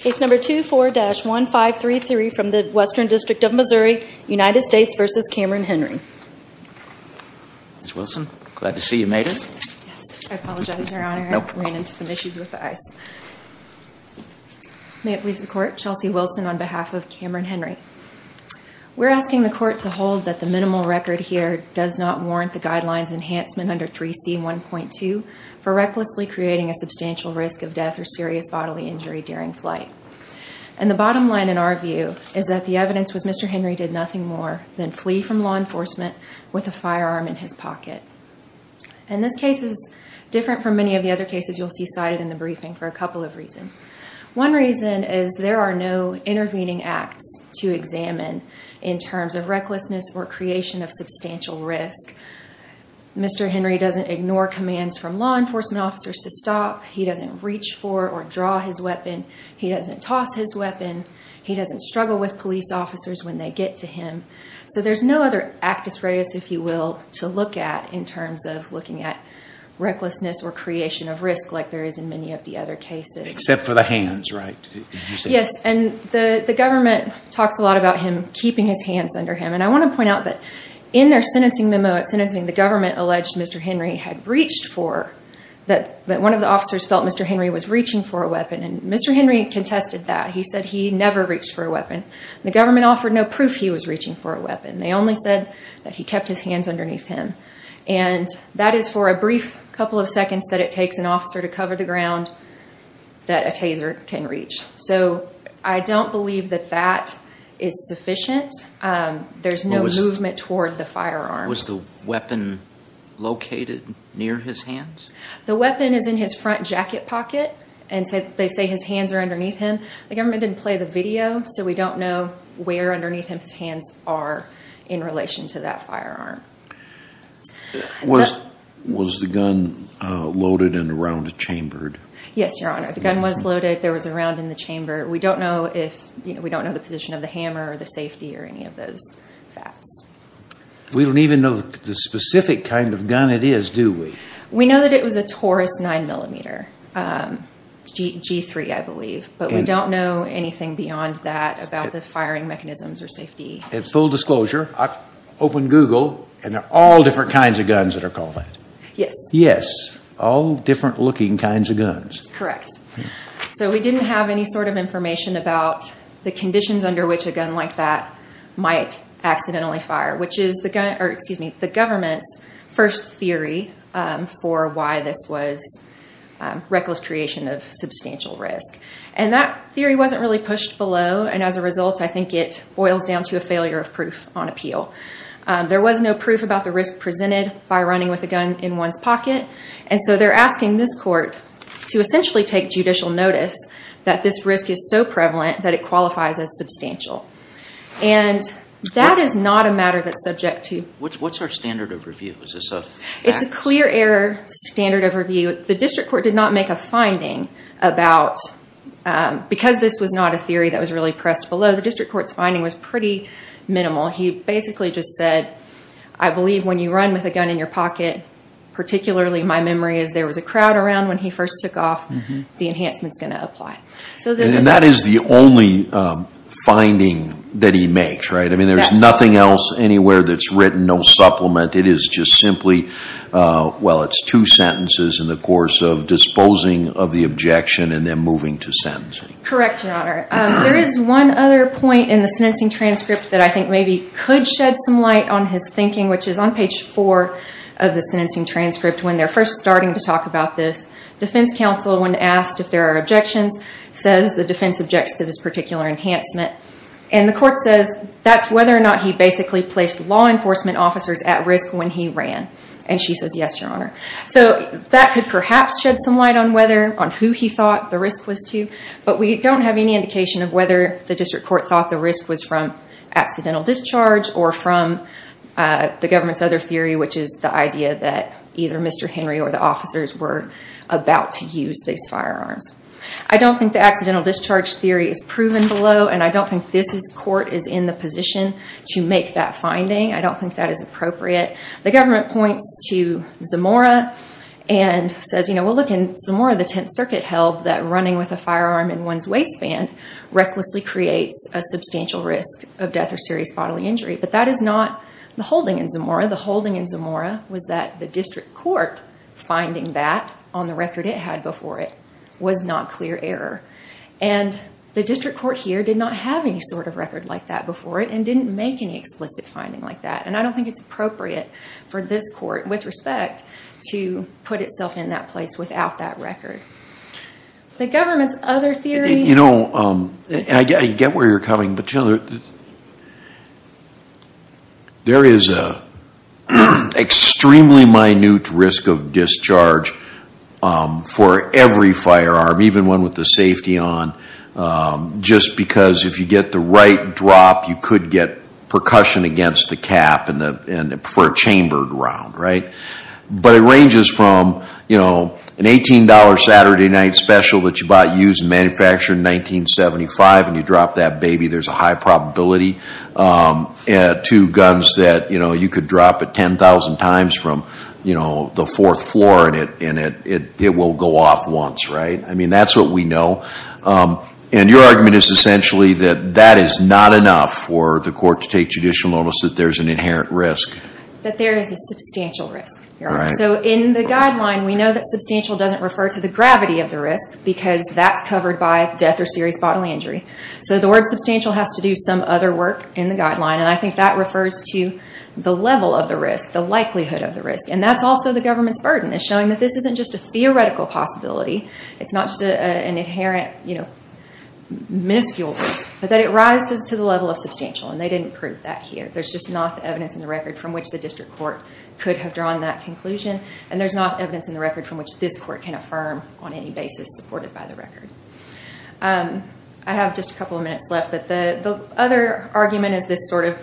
Case number 24-1533 from the Western District of Missouri, United States v. Camron Henry. Ms. Wilson, glad to see you made it. I apologize, Your Honor, I ran into some issues with the ice. May it please the Court, Chelsea Wilson on behalf of Camron Henry. We're asking the Court to hold that the minimal record here does not warrant the guidelines enhancement under 3C1.2 for recklessly creating a substantial risk of death or serious bodily injury during flight. And the bottom line in our view is that the evidence was Mr. Henry did nothing more than flee from law enforcement with a firearm in his pocket. And this case is different from many of the other cases you'll see cited in the briefing for a couple of reasons. One reason is there are no intervening acts to examine in terms of recklessness or creation of substantial risk. Mr. Henry doesn't ignore commands from law enforcement officers to stop. He doesn't reach for or draw his weapon. He doesn't toss his weapon. He doesn't struggle with police officers when they get to him. So there's no other actus reus, if you will, to look at in terms of looking at recklessness or creation of risk like there is in many of the other cases. Except for the hands, right? Yes, and the government talks a lot about him keeping his hands under him. And I want to point out that in their sentencing memo at sentencing, the government alleged Mr. Henry had reached for that one of the officers felt Mr. Henry was reaching for a weapon. And Mr. Henry contested that. He said he never reached for a weapon. The government offered no proof he was reaching for a weapon. They only said that he kept his hands underneath him. And that is for a brief couple of seconds that it takes an officer to cover the ground that a taser can reach. So I don't believe that that is sufficient. There's no movement toward the firearm. Was the weapon located near his hands? The weapon is in his front jacket pocket, and they say his hands are underneath him. The government didn't play the video, so we don't know where underneath him his hands are in relation to that firearm. Was the gun loaded and around chambered? Yes, Your Honor. The gun was loaded. There was a round in the chamber. We don't know the position of the hammer or the safety or any of those facts. We don't even know the specific kind of gun it is, do we? We know that it was a Taurus 9mm, G3, I believe. But we don't know anything beyond that about the firing mechanisms or safety. And full disclosure, I opened Google, and there are all different kinds of guns that are called that. Yes. Yes. All different looking kinds of guns. Correct. So we didn't have any sort of information about the conditions under which a gun like that might accidentally fire, which is the government's first theory for why this was reckless creation of substantial risk. And that theory wasn't really pushed below, and as a result, I think it boils down to a failure of proof on appeal. There was no proof about the risk presented by running with a gun in one's pocket, and so they're asking this court to essentially take judicial notice that this risk is so prevalent that it qualifies as substantial. And that is not a matter that's subject to… What's our standard of review? It's a clear error standard of review. The district court did not make a finding about, because this was not a theory that was really pressed below, the district court's finding was pretty minimal. He basically just said, I believe when you run with a gun in your pocket, particularly my memory is there was a crowd around when he first took off, the enhancement's going to apply. And that is the only finding that he makes, right? I mean, there's nothing else anywhere that's written, no supplement. It is just simply, well, it's two sentences in the course of disposing of the objection and then moving to sentencing. Correct, Your Honor. There is one other point in the sentencing transcript that I think maybe could shed some light on his thinking, which is on page four of the sentencing transcript when they're first starting to talk about this. Defense counsel, when asked if there are objections, says the defense objects to this particular enhancement. And the court says that's whether or not he basically placed law enforcement officers at risk when he ran. And she says, yes, Your Honor. So that could perhaps shed some light on whether, on who he thought the risk was to, but we don't have any indication of whether the district court thought the risk was from accidental discharge or from the government's other theory, which is the idea that either Mr. Henry or the officers were about to use these firearms. I don't think the accidental discharge theory is proven below, and I don't think this court is in the position to make that finding. I don't think that is appropriate. The government points to Zamora and says, you know, putting a firearm in one's waistband recklessly creates a substantial risk of death or serious bodily injury. But that is not the holding in Zamora. The holding in Zamora was that the district court finding that on the record it had before it was not clear error. And the district court here did not have any sort of record like that before it and didn't make any explicit finding like that. And I don't think it's appropriate for this court, with respect, to put itself in that place without that record. The government's other theory... You know, I get where you're coming, but there is an extremely minute risk of discharge for every firearm, even one with the safety on, just because if you get the right drop, you could get percussion against the cap for a chambered round, right? But it ranges from, you know, an $18 Saturday night special that you bought used and manufactured in 1975, and you drop that baby, there's a high probability, to guns that, you know, you could drop it 10,000 times from, you know, the fourth floor, and it will go off once, right? I mean, that's what we know. And your argument is essentially that that is not enough for the court to take judicial notice that there's an inherent risk. That there is a substantial risk. So in the guideline, we know that substantial doesn't refer to the gravity of the risk, because that's covered by death or serious bodily injury. So the word substantial has to do some other work in the guideline, and I think that refers to the level of the risk, the likelihood of the risk. And that's also the government's burden, is showing that this isn't just a theoretical possibility, it's not just an inherent, you know, minuscule risk, but that it rises to the level of substantial, and they didn't prove that here. There's just not the evidence in the record from which the district court could have drawn that conclusion, and there's not evidence in the record from which this court can affirm on any basis supported by the record. I have just a couple of minutes left, but the other argument is this sort of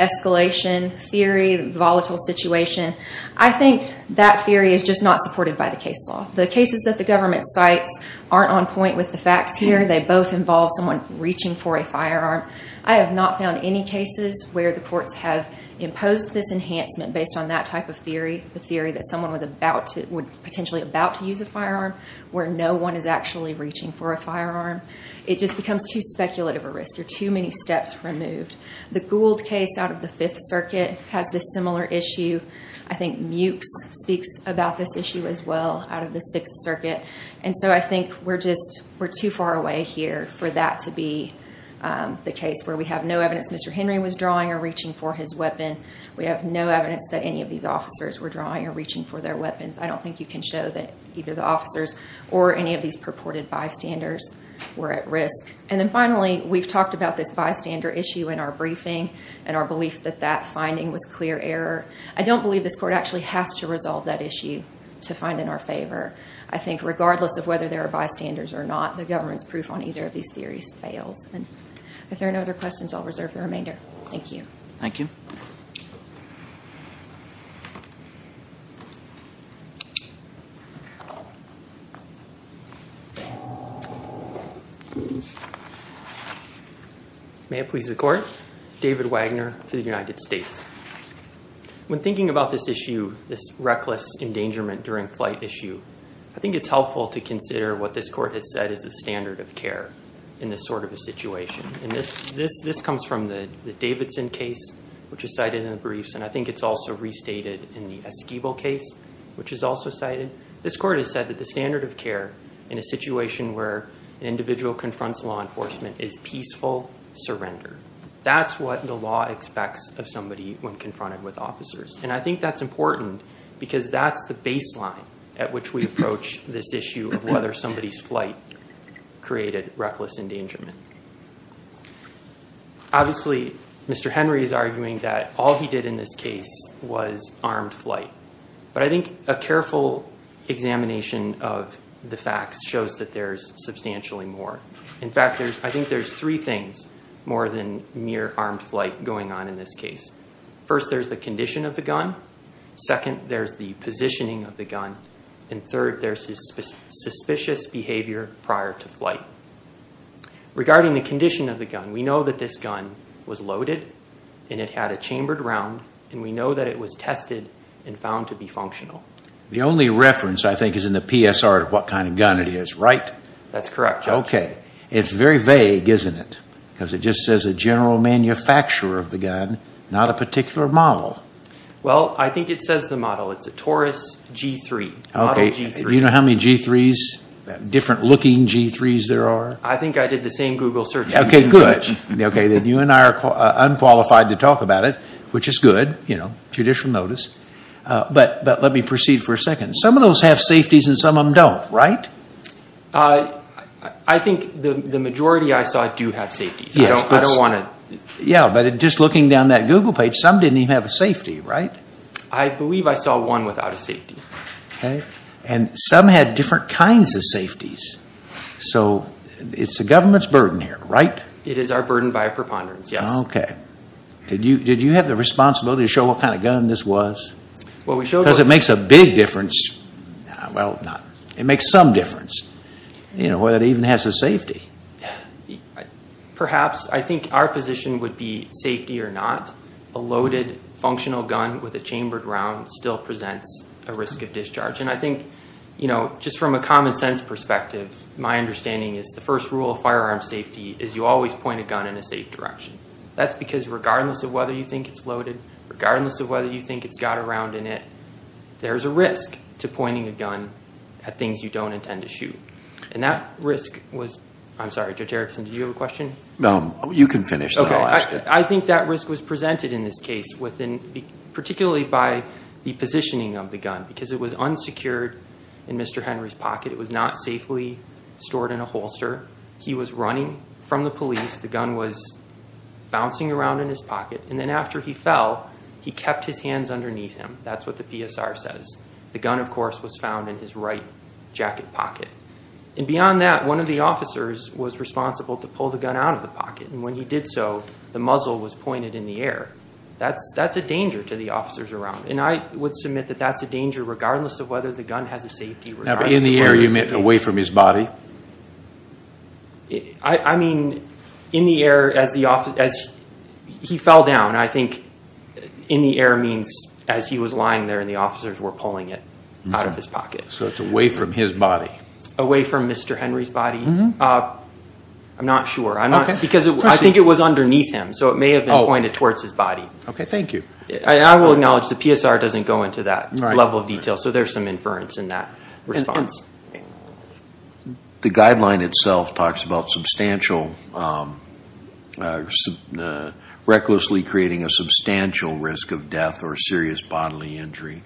escalation theory, volatile situation. I think that theory is just not supported by the case law. The cases that the government cites aren't on point with the facts here. They both involve someone reaching for a firearm. I have not found any cases where the courts have imposed this enhancement based on that type of theory, the theory that someone was potentially about to use a firearm, where no one is actually reaching for a firearm. It just becomes too speculative a risk. There are too many steps removed. The Gould case out of the Fifth Circuit has this similar issue. I think Mewkes speaks about this issue as well, out of the Sixth Circuit. I think we're too far away here for that to be the case where we have no evidence Mr. Henry was drawing or reaching for his weapon. We have no evidence that any of these officers were drawing or reaching for their weapons. I don't think you can show that either the officers or any of these purported bystanders were at risk. Finally, we've talked about this bystander issue in our briefing and our belief that that finding was clear error. I don't believe this court actually has to resolve that issue to find in our favor. I think regardless of whether there are bystanders or not, the government's proof on either of these theories fails. If there are no other questions, I'll reserve the remainder. Thank you. Thank you. May it please the Court. David Wagner for the United States. When thinking about this issue, this reckless endangerment during flight issue, I think it's helpful to consider what this court has said is the standard of care in this sort of a situation. This comes from the Davidson case, which is cited in the briefs, and I think it's also restated in the Esquivel case, which is also cited. This court has said that the standard of care in a situation where an individual confronts law enforcement is peaceful surrender. That's what the law expects of somebody when confronted with officers, and I think that's important because that's the baseline at which we approach this issue of whether somebody's flight created reckless endangerment. Obviously, Mr. Henry is arguing that all he did in this case was armed flight, but I think a careful examination of the facts shows that there's substantially more. In fact, I think there's three things more than mere armed flight going on in this case. First, there's the condition of the gun. Second, there's the positioning of the gun. And third, there's his suspicious behavior prior to flight. Regarding the condition of the gun, we know that this gun was loaded and it had a chambered round, and we know that it was tested and found to be functional. The only reference, I think, is in the PSR of what kind of gun it is, right? That's correct, Judge. Okay. It's very vague, isn't it? Because it just says a general manufacturer of the gun, not a particular model. Well, I think it says the model. It's a Taurus G3, model G3. Okay. Do you know how many G3s, different looking G3s there are? I think I did the same Google search. Okay, good. Okay, then you and I are unqualified to talk about it, which is good, you know, judicial notice. But let me proceed for a second. Some of those have safeties and some of them don't, right? I think the majority I saw do have safeties. Yes, but just looking down that Google page, some didn't even have a safety, right? I believe I saw one without a safety. And some had different kinds of safeties. So it's the government's burden here, right? It is our burden by preponderance, yes. Okay. Did you have the responsibility to show what kind of gun this was? Because it makes a big difference. Well, it makes some difference. You know, whether it even has a safety. Perhaps. I think our position would be safety or not. A loaded functional gun with a chambered round still presents a risk of discharge. And I think, you know, just from a common sense perspective, my understanding is the first rule of firearm safety is you always point a gun in a safe direction. That's because regardless of whether you think it's loaded, regardless of whether you think it's got a round in it, there's a risk to pointing a gun at things you don't intend to shoot. And that risk was – I'm sorry, Judge Erickson, did you have a question? No, you can finish. Okay. I think that risk was presented in this case particularly by the positioning of the gun. Because it was unsecured in Mr. Henry's pocket. It was not safely stored in a holster. He was running from the police. The gun was bouncing around in his pocket. And then after he fell, he kept his hands underneath him. That's what the PSR says. The gun, of course, was found in his right jacket pocket. And beyond that, one of the officers was responsible to pull the gun out of the pocket. And when he did so, the muzzle was pointed in the air. That's a danger to the officers around. And I would submit that that's a danger regardless of whether the gun has a safety. In the air, you meant away from his body? I mean, in the air as he fell down. And I think in the air means as he was lying there and the officers were pulling it out of his pocket. So it's away from his body? Away from Mr. Henry's body. I'm not sure. Because I think it was underneath him. So it may have been pointed towards his body. Okay, thank you. I will acknowledge the PSR doesn't go into that level of detail. So there's some inference in that response. The guideline itself talks about substantially, recklessly creating a substantial risk of death or serious bodily injury.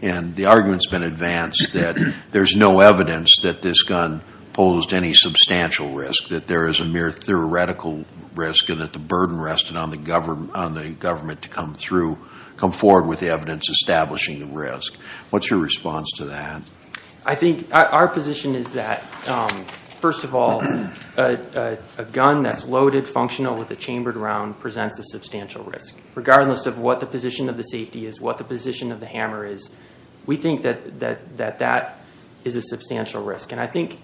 And the argument's been advanced that there's no evidence that this gun posed any substantial risk, that there is a mere theoretical risk and that the burden rested on the government to come through, come forward with evidence establishing the risk. What's your response to that? I think our position is that, first of all, a gun that's loaded, functional, with a chambered round presents a substantial risk. Regardless of what the position of the safety is, what the position of the hammer is, we think that that is a substantial risk. And I think,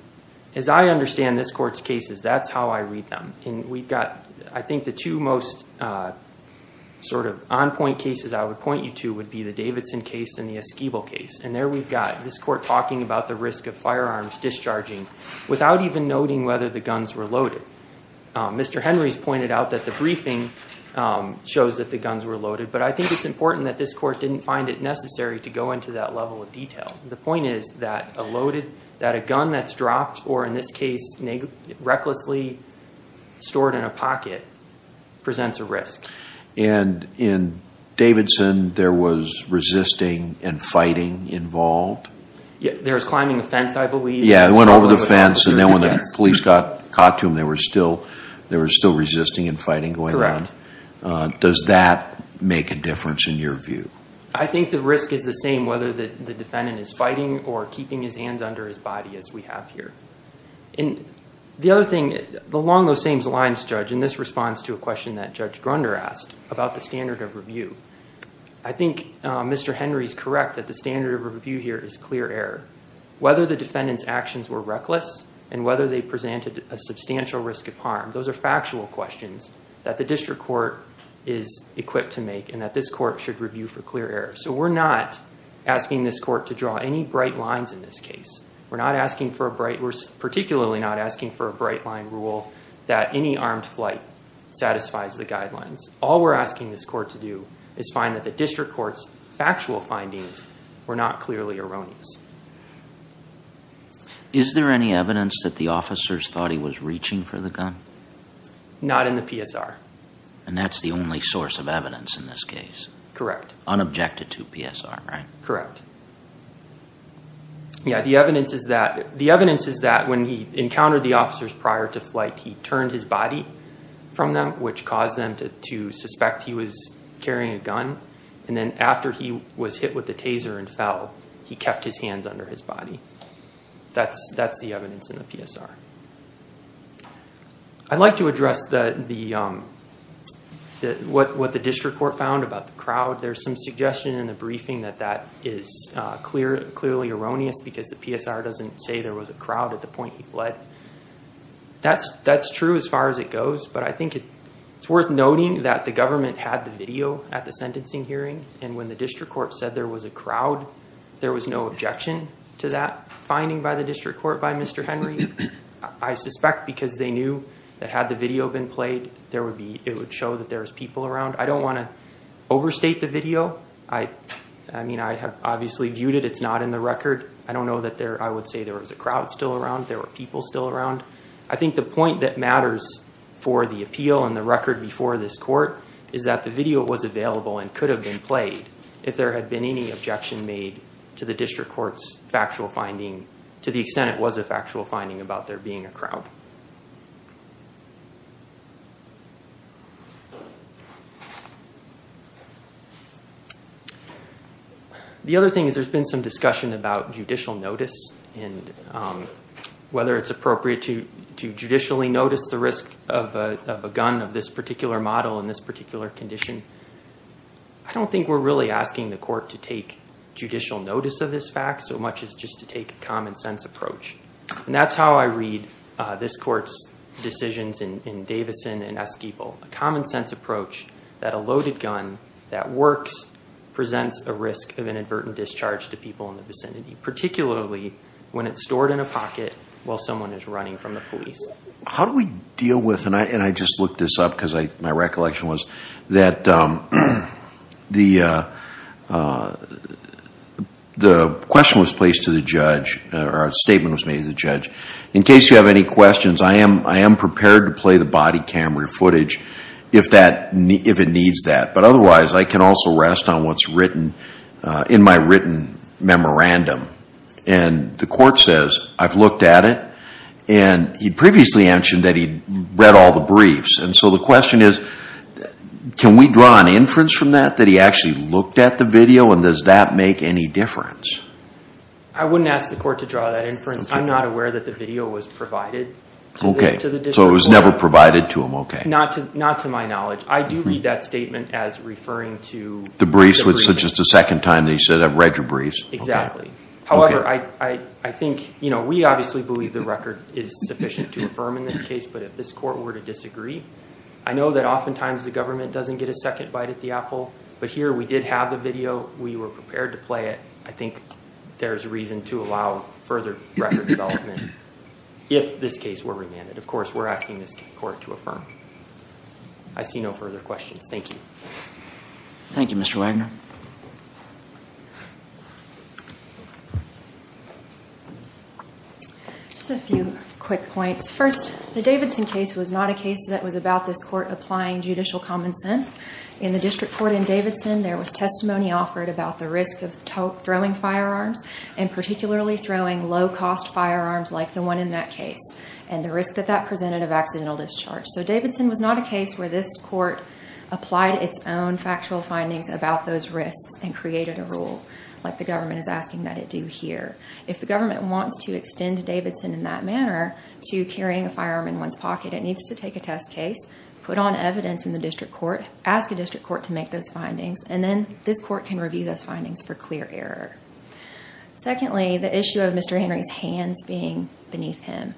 as I understand this Court's cases, that's how I read them. And we've got, I think the two most sort of on-point cases I would point you to would be the Davidson case and the Esquibel case. And there we've got this Court talking about the risk of firearms discharging without even noting whether the guns were loaded. Mr. Henry's pointed out that the briefing shows that the guns were loaded, but I think it's important that this Court didn't find it necessary to go into that level of detail. The point is that a gun that's dropped or, in this case, recklessly stored in a pocket presents a risk. And in Davidson, there was resisting and fighting involved? There was climbing a fence, I believe. Yeah, it went over the fence, and then when the police got caught to him, there was still resisting and fighting going on. Correct. Does that make a difference in your view? I think the risk is the same, whether the defendant is fighting or keeping his hands under his body, as we have here. And the other thing, along those same lines, Judge, and this responds to a question that Judge Grunder asked about the standard of review. I think Mr. Henry's correct that the standard of review here is clear error. Whether the defendant's actions were reckless and whether they presented a substantial risk of harm, those are factual questions that the District Court is equipped to make and that this Court should review for clear error. So we're not asking this Court to draw any bright lines in this case. We're not asking for a bright, we're particularly not asking for a bright line rule that any armed flight satisfies the guidelines. All we're asking this Court to do is find that the District Court's factual findings were not clearly erroneous. Is there any evidence that the officers thought he was reaching for the gun? Not in the PSR. And that's the only source of evidence in this case? Correct. Unobjected to PSR, right? Correct. Yeah, the evidence is that when he encountered the officers prior to flight, he turned his body from them, which caused them to suspect he was carrying a gun. And then after he was hit with the taser and fell, he kept his hands under his body. That's the evidence in the PSR. I'd like to address what the District Court found about the crowd. There's some suggestion in the briefing that that is clearly erroneous because the PSR doesn't say there was a crowd at the point he fled. That's true as far as it goes, but I think it's worth noting that the government had the video at the sentencing hearing, and when the District Court said there was a crowd, there was no objection to that finding by the District Court by Mr. Henry. I suspect because they knew that had the video been played, it would show that there was people around. I don't want to overstate the video. I mean, I have obviously viewed it. It's not in the record. I don't know that I would say there was a crowd still around, there were people still around. I think the point that matters for the appeal and the record before this court is that the video was available and could have been played if there had been any objection made to the District Court's factual finding about there being a crowd. The other thing is there's been some discussion about judicial notice and whether it's appropriate to judicially notice the risk of a gun of this particular model in this particular condition. I don't think we're really asking the court to take judicial notice of this fact so much as just to take a common sense approach. That's how I read this court's decisions in Davison and Esquibel, a common sense approach that a loaded gun that works presents a risk of inadvertent discharge to people in the vicinity, particularly when it's stored in a pocket while someone is running from the police. How do we deal with, and I just looked this up because my recollection was that the question was placed to the judge, or a statement was made to the judge, in case you have any questions, I am prepared to play the body camera footage if it needs that, but otherwise I can also rest on what's written in my written memorandum. The court says I've looked at it, and he previously mentioned that he'd read all the briefs. And so the question is, can we draw an inference from that, that he actually looked at the video, and does that make any difference? I wouldn't ask the court to draw that inference. I'm not aware that the video was provided to the district court. Okay, so it was never provided to him, okay. Not to my knowledge. I do read that statement as referring to the briefs. The briefs, which is just the second time that you said that, I've read your briefs. Exactly. However, I think, you know, we obviously believe the record is sufficient to affirm in this case, but if this court were to disagree, I know that oftentimes the government doesn't get a second bite at the apple, but here we did have the video. We were prepared to play it. I think there's reason to allow further record development if this case were remanded. Of course, we're asking this court to affirm. I see no further questions. Thank you. Thank you, Mr. Wagner. Just a few quick points. First, the Davidson case was not a case that was about this court applying judicial common sense. In the district court in Davidson, there was testimony offered about the risk of throwing firearms and particularly throwing low-cost firearms like the one in that case and the risk that that presented of accidental discharge. So Davidson was not a case where this court applied its own factual findings about those risks and created a rule, like the government is asking that it do here. If the government wants to extend Davidson in that manner to carrying a firearm in one's pocket, it needs to take a test case, put on evidence in the district court, ask a district court to make those findings, and then this court can review those findings for clear error. Secondly, the issue of Mr. Henry's hands being beneath him.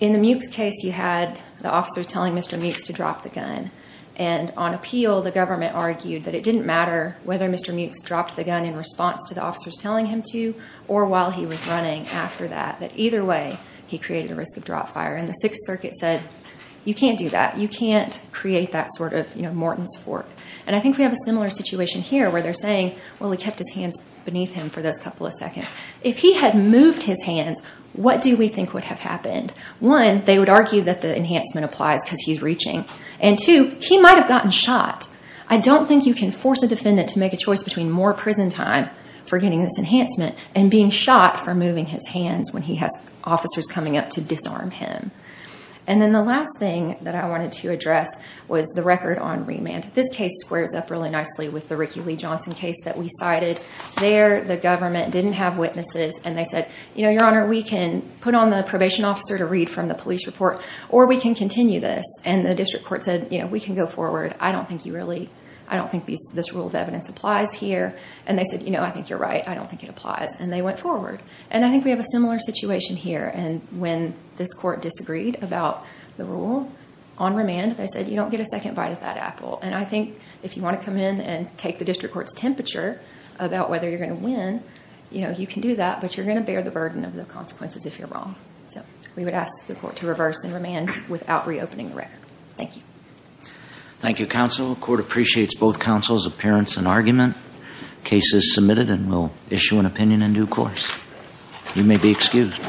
In the Muchs case, you had the officers telling Mr. Muchs to drop the gun, and on appeal, the government argued that it didn't matter whether Mr. Muchs dropped the gun in response to the officers telling him to or while he was running after that, that either way he created a risk of drop fire. And the Sixth Circuit said, you can't do that. You can't create that sort of Morton's Fork. And I think we have a similar situation here where they're saying, well, he kept his hands beneath him for those couple of seconds. If he had moved his hands, what do we think would have happened? One, they would argue that the enhancement applies because he's reaching. And two, he might have gotten shot. I don't think you can force a defendant to make a choice between more prison time for getting this enhancement and being shot for moving his hands when he has officers coming up to disarm him. And then the last thing that I wanted to address was the record on remand. This case squares up really nicely with the Ricky Lee Johnson case that we cited. There, the government didn't have witnesses, and they said, Your Honor, we can put on the probation officer to read from the police report, or we can continue this. And the district court said, We can go forward. I don't think this rule of evidence applies here. And they said, I think you're right. I don't think it applies. And they went forward. And I think we have a similar situation here. And when this court disagreed about the rule on remand, they said, You don't get a second bite of that apple. And I think if you want to come in and take the district court's temperature about whether you're going to win, you can do that, but you're going to bear the burden of the consequences if you're wrong. So we would ask the court to reverse in remand without reopening the record. Thank you. Thank you, counsel. The court appreciates both counsel's appearance and argument. The case is submitted, and we'll issue an opinion in due course. You may be excused.